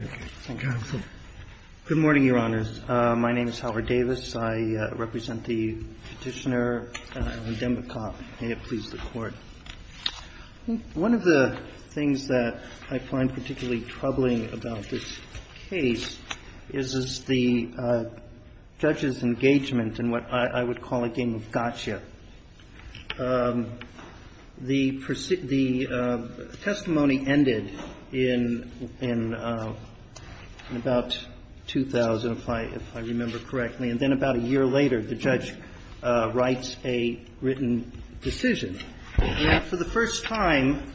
Good morning, Your Honors. My name is Howard Davis. I represent the Petitioner and I am the DAMBAKOV. May it please the Court. One of the things that I find particularly troubling about this case is the judge's decision in about 2000, if I remember correctly, and then about a year later the judge writes a written decision, and that for the first time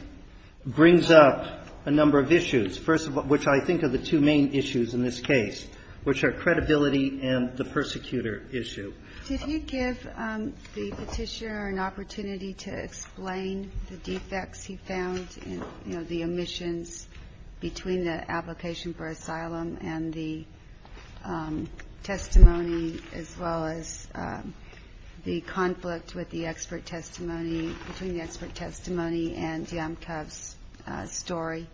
brings up a number of issues, first of which I think are the two main issues in this case, which are credibility and the persecutor issue. Did he give the Petitioner an opportunity to explain the defects he found, you know, the omissions between the application for asylum and the testimony, as well as the conflict with the expert testimony, between the expert testimony and DIAMBAKOV's story?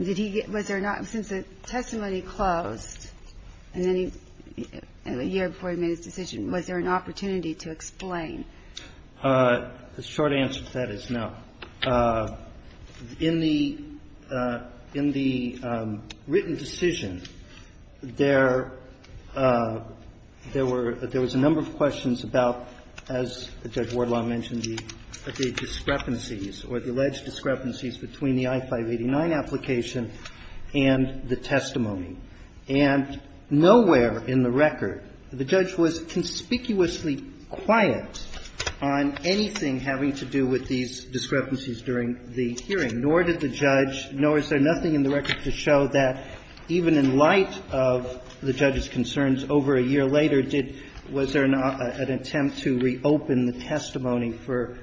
Did he get – was there not – since the testimony closed, and then he – a year before he made his decision, was there an opportunity to explain? The short answer to that is no. In the – in the written decision, there were – there was a number of questions about, as Judge Wardlaw mentioned, the discrepancies or the alleged discrepancies between the I-589 application and the testimony. And nowhere in the record the judge was conspicuously quiet on anything having to do with these discrepancies during the hearing, nor did the judge – nor is there nothing in the record to show that even in light of the judge's concerns over a year later, did – was there an attempt to reopen the testimony for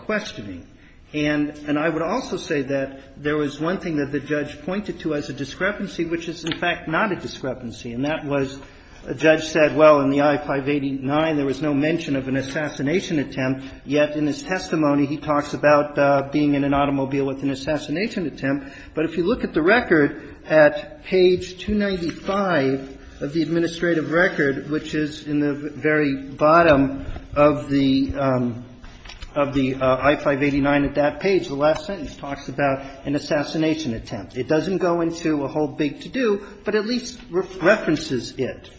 questioning. And I would also say that there was one thing that the judge pointed to as a discrepancy, which is, in fact, not a discrepancy, and that was a judge said, well, in the I-589 there was no mention of an assassination attempt, yet in his testimony he talks about being in an automobile with an assassination attempt. But if you look at the record at page 295 of the administrative record, which is in the very bottom of the – of the I-589 at that page, the last sentence talks about an assassination attempt. It doesn't go into a whole big to-do, but at least references it.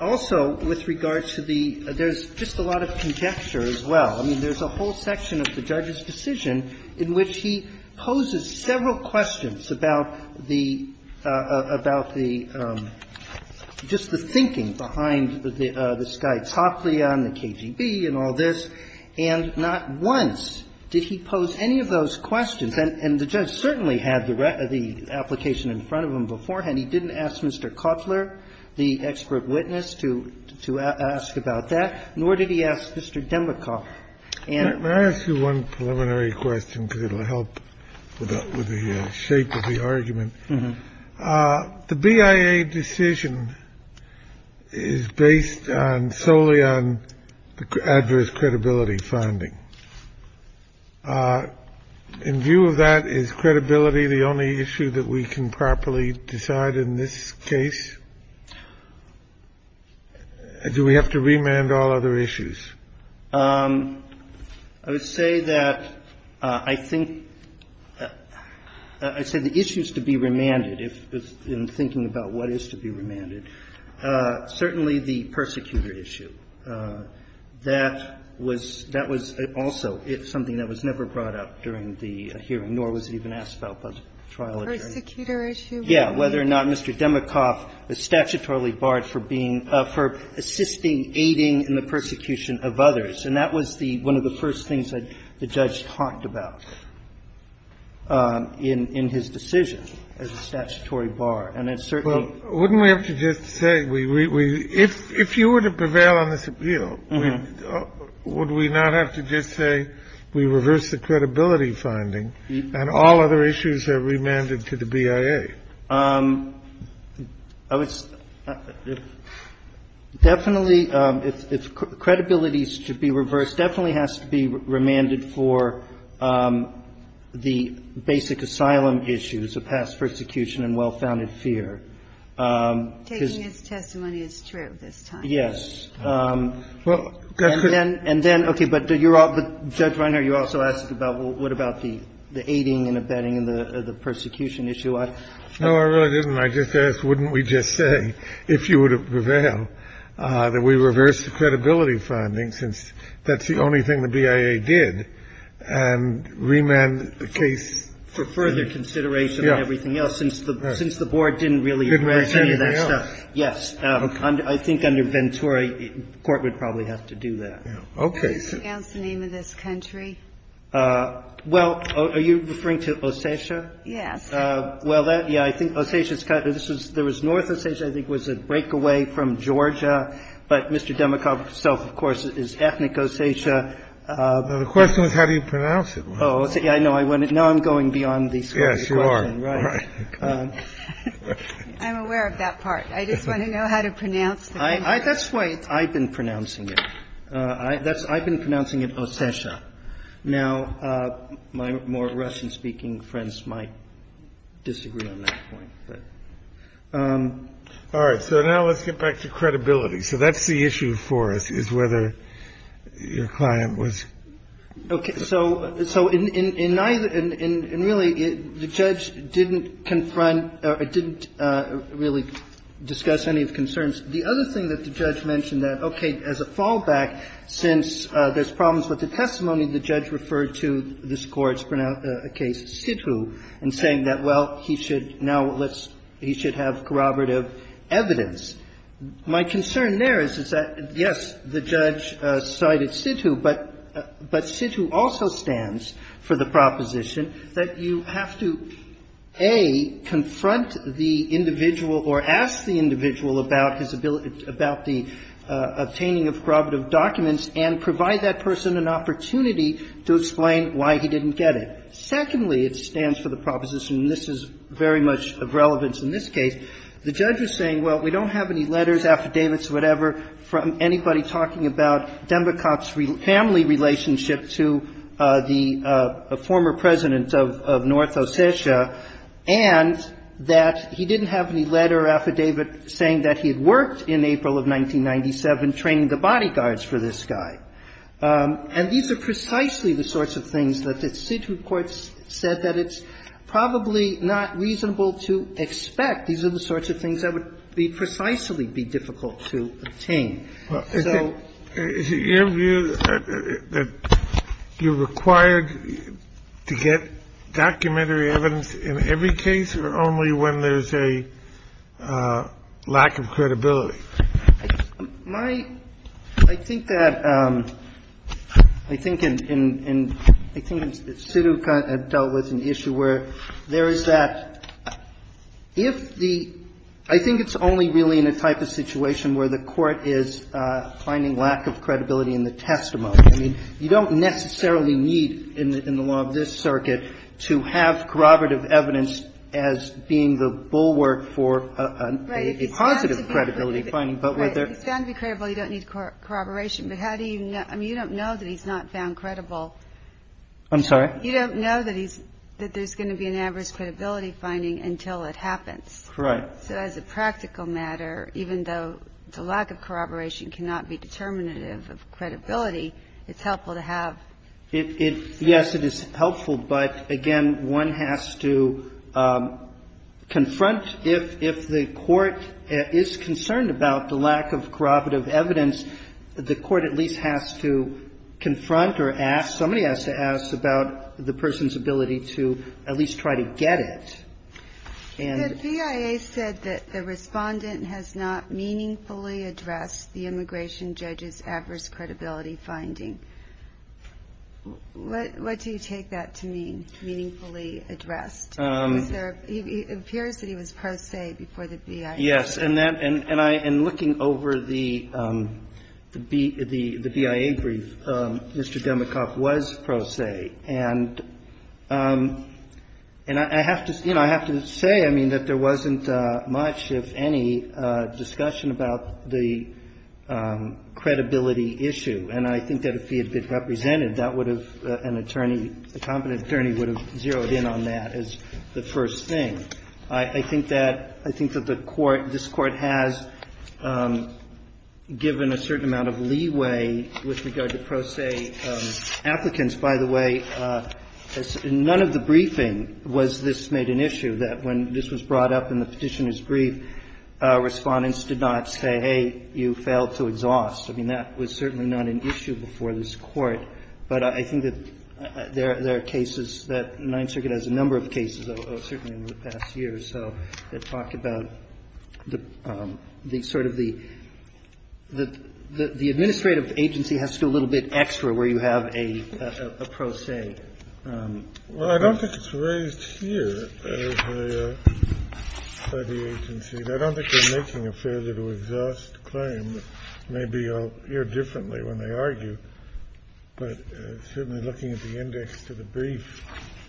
Also, with regard to the – there's just a lot of conjecture as well. I mean, there's a whole section of the judge's decision in which he poses several questions about the – about the – just the thinking behind the Sky Toplia and the KGB and all this, and not once did he pose any of those questions. And the judge certainly had the application in front of him beforehand. He didn't ask Mr. Cutler, the expert witness, to – to ask about that, nor did he ask Mr. Demikoff. Scalia. May I ask you one preliminary question, because it will help with the shape of the argument? The BIA decision is based on – solely on the adverse credibility finding. In view of that, is credibility the only issue that we can properly decide in this case? Do we have to remand all other issues? I would say that I think – I'd say the issues to be remanded, in thinking about what is to be remanded, certainly the persecutor issue. That was – that was also something that was never brought up during the hearing, nor was it even asked about by the trial attorney. Persecutor issue? Yeah. Whether or not Mr. Demikoff is statutorily barred for being – for assisting, aiding in the persecution of others. And that was the – one of the first things that the judge talked about in – in his decision, as a statutory bar. And it certainly – Well, wouldn't we have to just say we – we – if you were to prevail on this appeal, would we not have to just say we reversed the credibility finding and all other issues are remanded to the BIA? I would – definitely, if credibility is to be reversed, definitely has to be remanded for the basic asylum issues of past persecution and well-founded fear. Taking his testimony is true this time. Yes. And then – and then, okay, but you're all – Judge Reiner, you also asked about what about the – the aiding and abetting and the persecution issue. I – No, I really didn't. I just asked, wouldn't we just say, if you were to prevail, that we reverse the credibility finding, since that's the only thing the BIA did, and remand the case to the BIA? For further consideration on everything else, since the – since the board didn't really address any of that stuff. Didn't present anything else. Yes. I think under Ventura, the Court would probably have to do that. Okay. What's the name of this country? Well, are you referring to Ossetia? Yes. Well, that – yeah, I think Ossetia is kind of – this is – there was North Ossetia, I think was a breakaway from Georgia. But Mr. Demikoff himself, of course, is ethnic Ossetia. The question was how do you pronounce it. Oh, yeah, I know. I went – now I'm going beyond the Scottish question. Yes, you are. Right. I'm aware of that part. I just want to know how to pronounce the country. That's the way I've been pronouncing it. That's – I've been pronouncing it Ossetia. Now, my more Russian-speaking friends might disagree on that point. All right. So now let's get back to credibility. So that's the issue for us, is whether your client was – Okay. So in – and really, the judge didn't confront or didn't really discuss any of the concerns. The other thing that the judge mentioned that, okay, as a fallback, since there's problems with the testimony, the judge referred to this Court's case, Sithu, and saying that, well, he should now let's – he should have corroborative evidence. My concern there is that, yes, the judge cited Sithu, but Sithu also stands for the proposition that you have to, A, confront the individual or ask the individual about his ability – about the obtaining of corroborative documents and provide that person an opportunity to explain why he didn't get it. Secondly, it stands for the proposition, and this is very much of relevance in this case, the judge was saying, well, we don't have any letters, affidavits or whatever from anybody talking about Dembekov's family relationship to the former President of North Ossetia, and that he didn't have any letter or affidavit saying that he had worked in April of 1997 training the bodyguards for this guy. And these are precisely the sorts of things that the Sithu Court said that it's probably not reasonable to expect. These are the sorts of things that would be precisely be difficult to obtain. So –– lack of credibility. My – I think that – I think in – I think Sithu dealt with an issue where there is that if the – I think it's only really in a type of situation where the Court is finding lack of credibility in the testimony. I mean, you don't necessarily need in the law of this circuit to have corroborative evidence as being the bulwark for a positive credibility finding. But whether – Right, if he's found to be credible, you don't need corroboration. But how do you – I mean, you don't know that he's not found credible. I'm sorry? You don't know that he's – that there's going to be an adverse credibility finding until it happens. Correct. So as a practical matter, even though the lack of corroboration cannot be determinative of credibility, it's helpful to have – It – yes, it is helpful. But again, one has to confront – if the Court is concerned about the lack of corroborative evidence, the Court at least has to confront or ask – somebody has to ask about the person's ability to at least try to get it. The BIA said that the respondent has not meaningfully addressed the immigration judge's adverse credibility finding. What do you take that to mean, meaningfully addressed? Is there – it appears that he was pro se before the BIA. Yes. And that – and I – in looking over the BIA brief, Mr. Demikoff was pro se. And I have to – you know, I have to say, I mean, that there wasn't much, if any, discussion about the credibility issue. And I think that if he had been represented, that would have – an attorney, a competent attorney would have zeroed in on that as the first thing. I think that – I think that the Court – this Court has given a certain amount of leeway with regard to pro se applicants. By the way, none of the briefing was this made an issue, that when this was brought up in the Petitioner's brief, Respondents did not say, hey, you failed to exhaust. I mean, that was certainly not an issue before this Court. But I think that there are cases that – the Ninth Circuit has a number of cases, certainly in the past year or so, that talk about the sort of the – the administrative agency has to do a little bit extra where you have a pro se. Well, I don't think it's raised here as a study agency. I don't think they're making a failure to exhaust claim. Maybe I'll hear differently when they argue. But certainly looking at the index to the brief,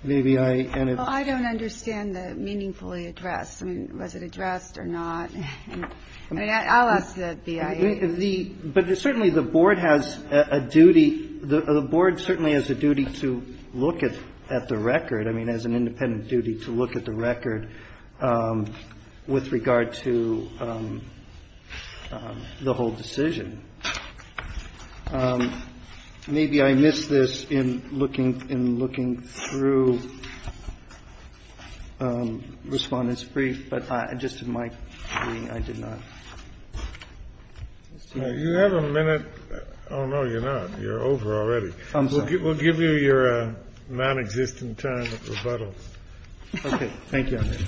maybe I – Well, I don't understand the meaningfully addressed. I mean, was it addressed or not? I mean, I'll ask the BIA. The – but certainly the Board has a duty – the Board certainly has a duty to look at the record. I mean, has an independent duty to look at the record with regard to the whole decision. Maybe I missed this in looking – in looking through Respondents' brief, but I – just to my reading, I did not. You have a minute – oh, no, you're not. You're over already. I'm sorry. We'll give you your non-existent time of rebuttal. Okay. Thank you, Your Honor.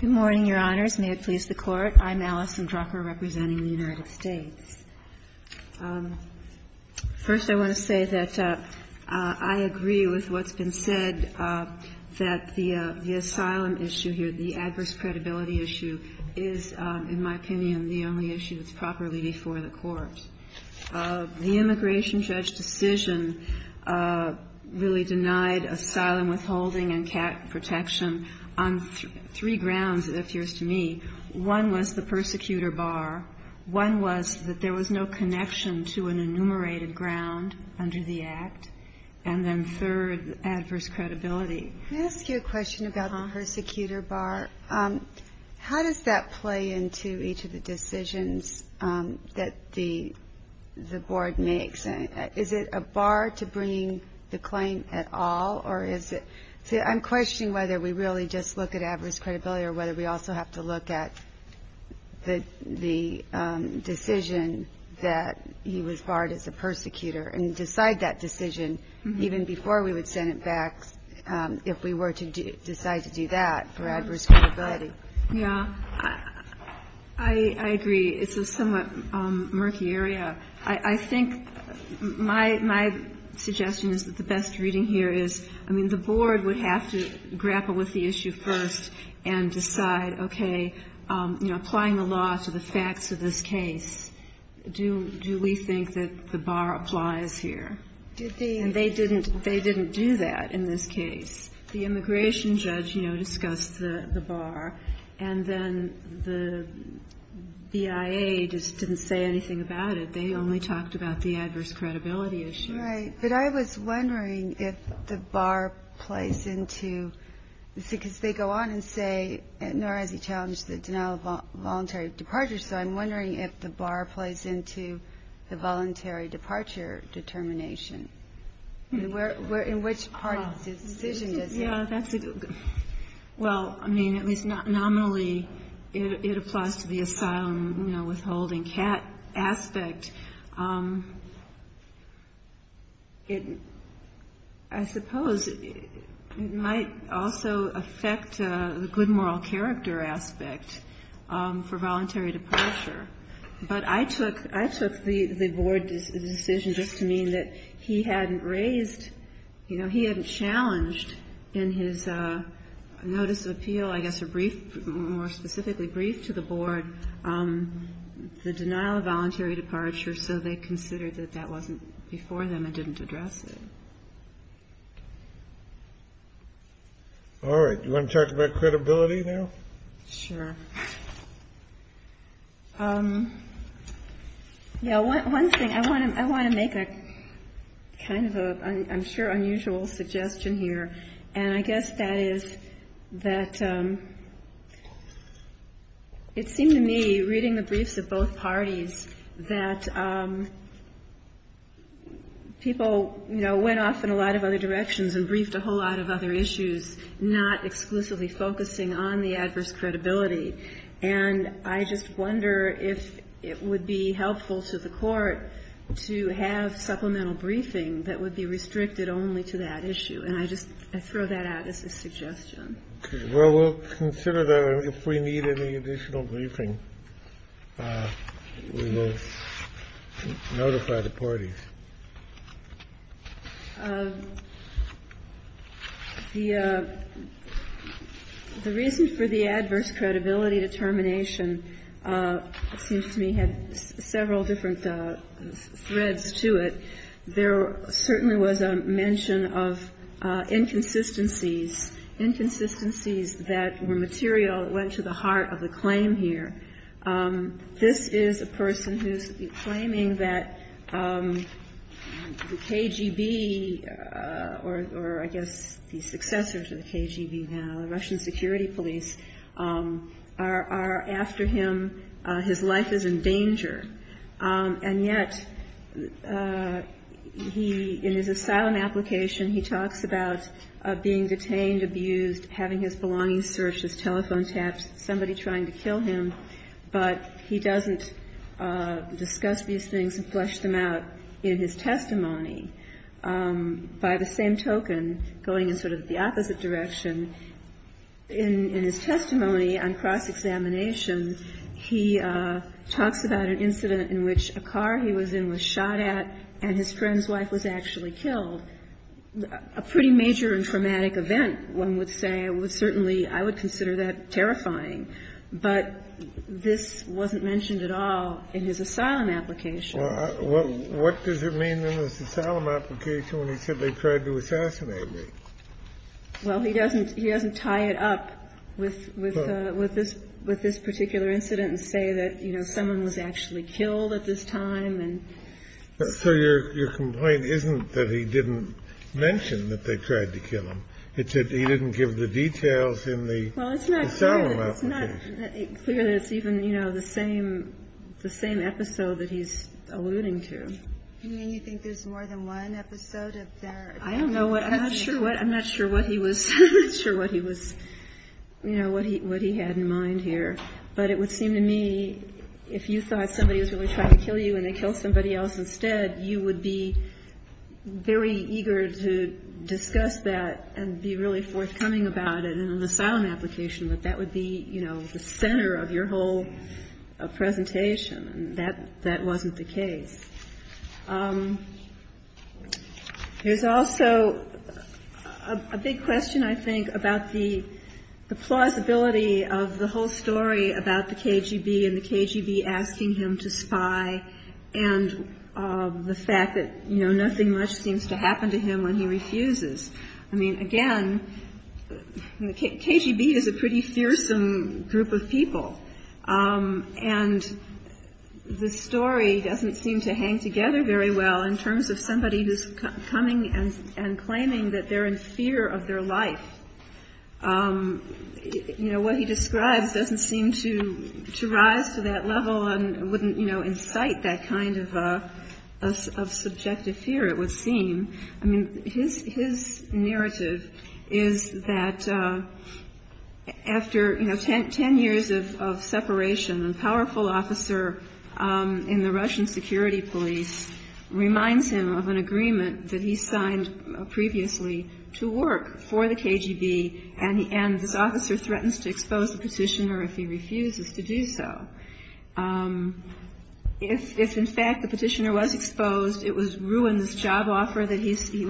Good morning, Your Honors. May it please the Court. I'm Allison Drucker representing the United States. First, I want to say that I agree with what's been said, that the asylum issue here, the adverse credibility issue, is, in my opinion, the only issue that's properly before the courts. The immigration judge decision really denied asylum withholding and cat protection on three grounds, it appears to me. One was the persecutor bar. One was that there was no connection to an enumerated ground under the Act. And then third, adverse credibility. Can I ask you a question about the persecutor bar? How does that play into each of the decisions that the Board makes? Is it a bar to bringing the claim at all, or is it – see, I'm questioning whether we really just look at adverse credibility or whether we also have to look at the decision that he was barred as a persecutor and decide that decision even before we would send it back if we were to decide to do that for adverse credibility. Yeah. I agree. It's a somewhat murky area. I think my suggestion is that the best reading here is, I mean, the Board would have to grab a handle with the issue first and decide, okay, you know, applying the law to the facts of this case, do we think that the bar applies here? And they didn't do that in this case. The immigration judge, you know, discussed the bar, and then the BIA just didn't say anything about it. They only talked about the adverse credibility issue. Right. But I was wondering if the bar plays into – because they go on and say, nor has he challenged the denial of voluntary departure, so I'm wondering if the bar plays into the voluntary departure determination, and where – in which part of the decision is it? Yeah, that's a – well, I mean, at least nominally, it applies to the asylum, you know, and I suppose it might also affect the good moral character aspect for voluntary departure. But I took – I took the Board's decision just to mean that he hadn't raised – you know, he hadn't challenged in his notice of appeal, I guess a brief – more specifically, brief to the Board the denial of voluntary departure, so they considered that that wasn't – before then, it didn't address it. All right. Do you want to talk about credibility now? Sure. Yeah, one thing – I want to make a kind of a, I'm sure, unusual suggestion here, and I guess that is that it seemed to me, reading the briefs of both parties, that people, you know, went off in a lot of other directions and briefed a whole lot of other issues, not exclusively focusing on the adverse credibility. And I just wonder if it would be helpful to the Court to have supplemental briefing that would be restricted only to that issue. And I just – I throw that out as a suggestion. Okay. Well, we'll consider that. And if we need any additional briefing, we will notify the parties. The reason for the adverse credibility determination seems to me had several different threads to it. There certainly was a mention of inconsistencies. Inconsistencies that were material that went to the heart of the claim here. This is a person who's claiming that the KGB, or I guess the successor to the KGB now, the Russian security police, are after him. His life is in danger. And yet, he – in his asylum application, he talks about being detained, abused, having his belongings searched, his telephone tapped, somebody trying to kill him. But he doesn't discuss these things and flesh them out in his testimony. By the same token, going in sort of the opposite direction, in his testimony on cross-examination, he talks about an incident in which a car he was in was shot at and his friend's wife was actually killed. A pretty major and traumatic event, one would say. It was certainly, I would consider that terrifying. But this wasn't mentioned at all in his asylum application. Well, what does it mean in his asylum application when he said they tried to assassinate me? Well, he doesn't – he doesn't tie it up with this particular incident and say that, you know, someone was actually killed at this time. So your complaint isn't that he didn't mention that they tried to kill him. It's that he didn't give the details in the asylum application. Well, it's not clear that it's even, you know, the same episode that he's alluding to. You mean you think there's more than one episode of their – I don't know what – I'm not sure what he was – I'm not sure what he was – you know, what he had in mind here. But it would seem to me if you thought somebody was really trying to kill you and they killed somebody else instead, you would be very eager to discuss that and be really forthcoming about it in an asylum application, that that would be, you know, the center of your whole presentation. And that wasn't the case. There's also a big question, I think, about the plausibility of the whole story about the KGB and the KGB asking him to spy and the fact that, you know, nothing much seems to happen to him when he refuses. I mean, again, the KGB is a pretty fearsome group of people and the story doesn't seem to hang together very well in terms of somebody who's coming and claiming that they're in fear of their life. You know, what he describes doesn't seem to rise to that level and wouldn't, you know, incite that kind of subjective fear, it would seem. I mean, his narrative is that after, you know, ten years of separation, a powerful officer in the Russian security police reminds him of an agreement that he signed previously to work for the KGB and this officer threatens to expose the petitioner if he refuses to do so. If, in fact, the petitioner was exposed, it would ruin this job offer where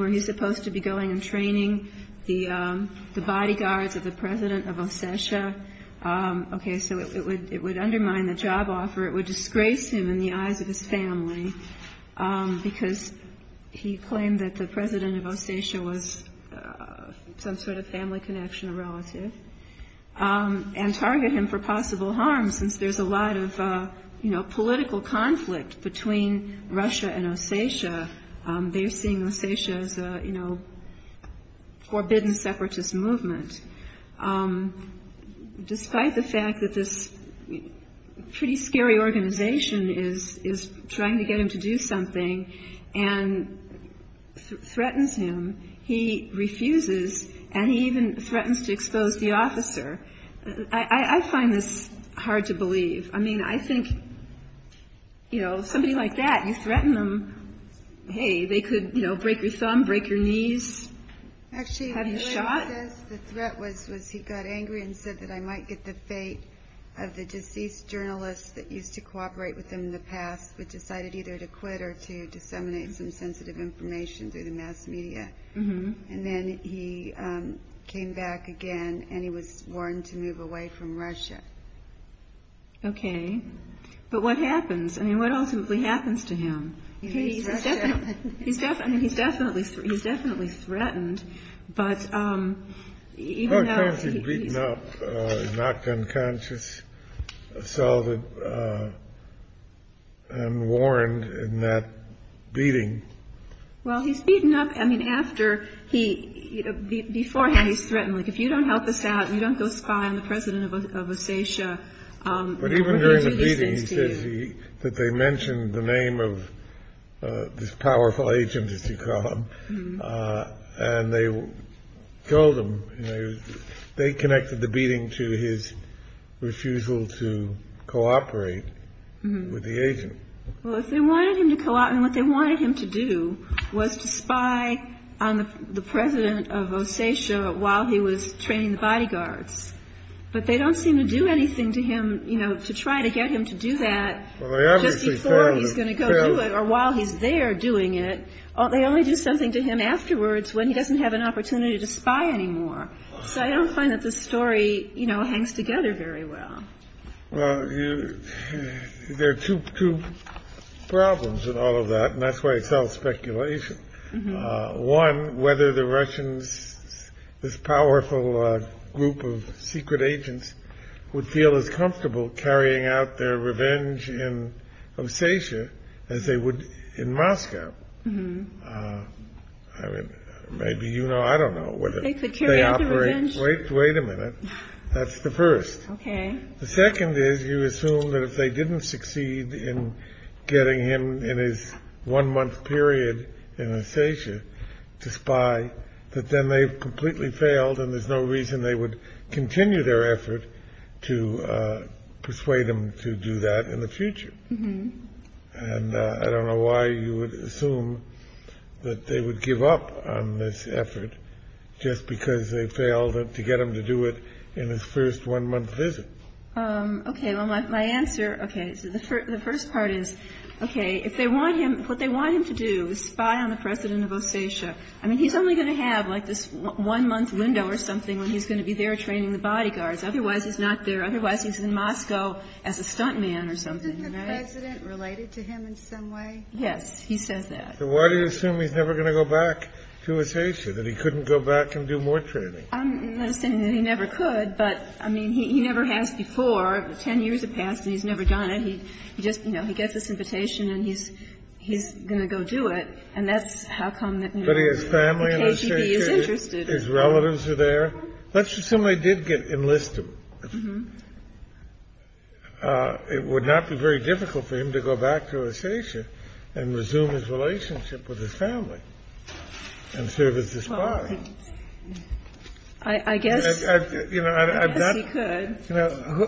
he's supposed to be going and training the bodyguards of the president of Ossetia. Okay, so it would undermine the job offer, it would disgrace him in the eyes of his family because he claimed that the president of Ossetia was some sort of family connection or relative and target him for possible harm since there's a lot of, you know, political conflict between Russia and Ossetia. They're seeing Ossetia as a, you know, forbidden separatist movement. Despite the fact that this pretty scary organization is trying to get him to do something and threatens him, he refuses and he even threatens to expose the officer. I find this hard to believe. I mean, I think, you know, somebody like that, if you threaten them, hey, they could, you know, break your thumb, break your knees, have you shot? Actually, the threat was he got angry and said that I might get the fate of the deceased journalist that used to cooperate with him in the past but decided either to quit or to disseminate some sensitive information through the mass media. And then he came back again and he was warned to move away from Russia. Okay. But what happens? I mean, what ultimately happens to him? He's definitely, he's definitely, he's definitely threatened. But even though he's beaten up, knocked unconscious, assaulted, and warned in that beating. Well, he's beaten up. I mean, after he, beforehand he's threatened, like, if you don't help us out, you don't go spy on the president of Osatia. But even during the beating he says he, that they mentioned the name of this powerful agent, as you call him, and they told him, you know, they connected the beating to his refusal to cooperate with the agent. Well, if they wanted him to cooperate, what they wanted him to do was to spy on the president of Osatia while he was training the bodyguards. But they don't seem to do anything to him, you know, to try to get him to do that just before he's going to go do it or while he's there doing it. They only do something to him afterwards when he doesn't have an opportunity to spy anymore. So I don't find that this story, you know, hangs together very well. Well, there are two problems in all of that, and that's why it's all speculation. One, whether the Russians, this powerful group of secret agents, would feel as comfortable carrying out their revenge in Osatia as they would in Moscow. Maybe, you know, I don't know whether they operate Wait a minute. That's the first. The second is you assume that if they didn't succeed in getting him in his one month period in Osatia to spy, that then they've completely failed and there's no reason they would continue their effort to persuade him to do that in the future. And I don't know why you would assume that they would give up on this effort just because they failed to get him to do it in his first one month visit. Okay. Well, my answer, okay, so the first part is, okay, if they want him, what they want him to do is spy on the President of Osatia. I mean, he's only going to have, like, this one month window or something when he's going to be there training the bodyguards. Otherwise, he's not there. Otherwise, he's in Moscow as a stuntman or something, right? Isn't the President related to him in some way? Yes. He says that. So why do you assume he's never going to go back to Osatia, that he couldn't go back and do more training? I'm not saying that he never could, but, I mean, he never has before. Ten years have passed, and he's never done it. He just, you know, he gets this invitation, and he's going to go do it. And that's how come the KGB is interested. But he has family in Osatia. His relatives are there. Let's assume they did enlist him. Mm-hmm. It would not be very difficult for him to go back to Osatia and resume his relationship with his family and serve as a spy. Well, I guess he could. You know,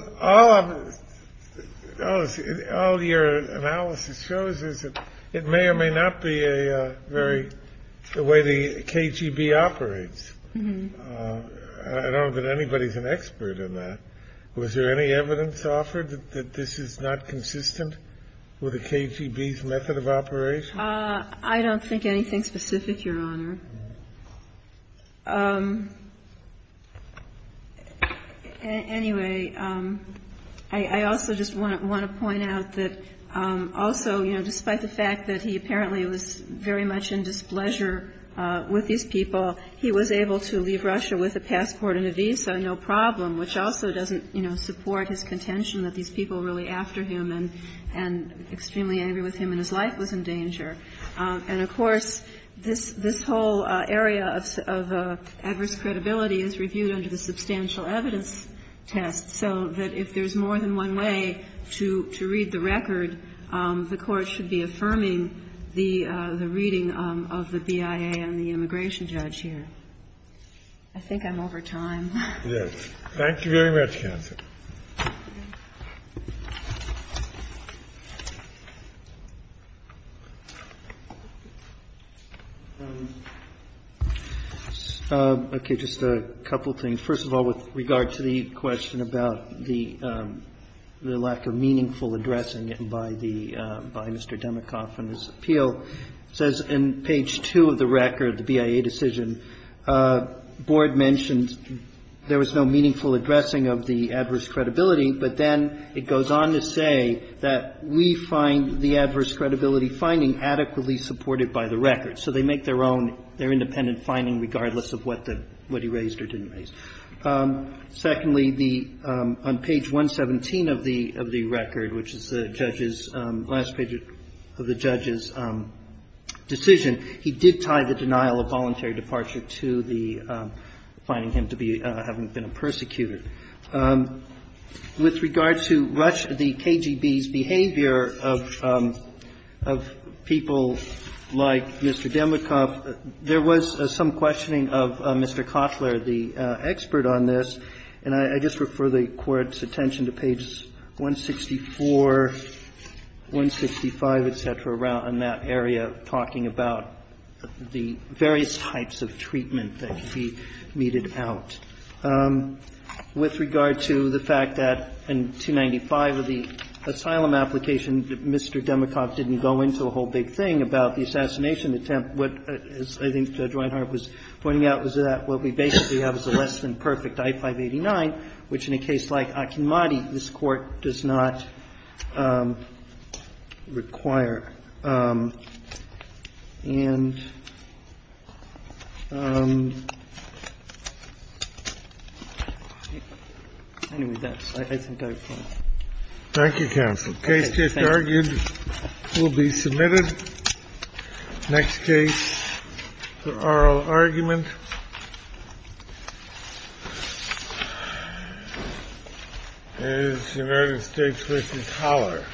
all your analysis shows is that it may or may not be a very – the way the KGB operates. Mm-hmm. I don't know that anybody's an expert in that. Was there any evidence offered that this is not consistent with the KGB's method of operation? I don't think anything specific, Your Honor. Anyway, I also just want to point out that also, you know, despite the fact that he apparently was very much in displeasure with these people, he was able to leave Russia with a passport and a visa, no problem, which also doesn't, you know, support his contention that these people were really after him and extremely And, of course, this whole area of adverse credibility is reviewed under the substantial evidence test, so that if there's more than one way to read the record, the Court should be affirming the reading of the BIA and the immigration judge here. I think I'm over time. Yes. Thank you very much, counsel. Okay, just a couple of things. First of all, with regard to the question about the lack of meaningful addressing by Mr. Demikoff in his appeal, it says in page 2 of the record, the BIA decision, the board mentioned there was no meaningful addressing of the adverse credibility, but then it goes on to say that we find the adverse credibility finding adequately supported by the record. So they make their own, their independent finding, regardless of what he raised or didn't raise. Secondly, on page 117 of the record, which is the judge's, last page of the judge's decision, he did tie the denial of voluntary departure to the finding him to be, having been a persecutor. With regard to the KGB's behavior of people like Mr. Demikoff, there was some questioning of Mr. Cotler, the expert on this, and I just refer the Court's attention to pages 164, 165, et cetera, around that area, talking about the various types of treatment that he meted out. With regard to the fact that in 295 of the asylum application, Mr. Demikoff didn't go into a whole big thing about the assassination attempt. What I think Judge Reinhart was pointing out was that what we basically have is a less than perfect I-589, which in a case like Akinmati, this Court does not require. And anyway, that's, I think I've come. Thank you, counsel. The case just argued will be submitted. Next case, the oral argument. And it's the United States v. Cotler. Thank you.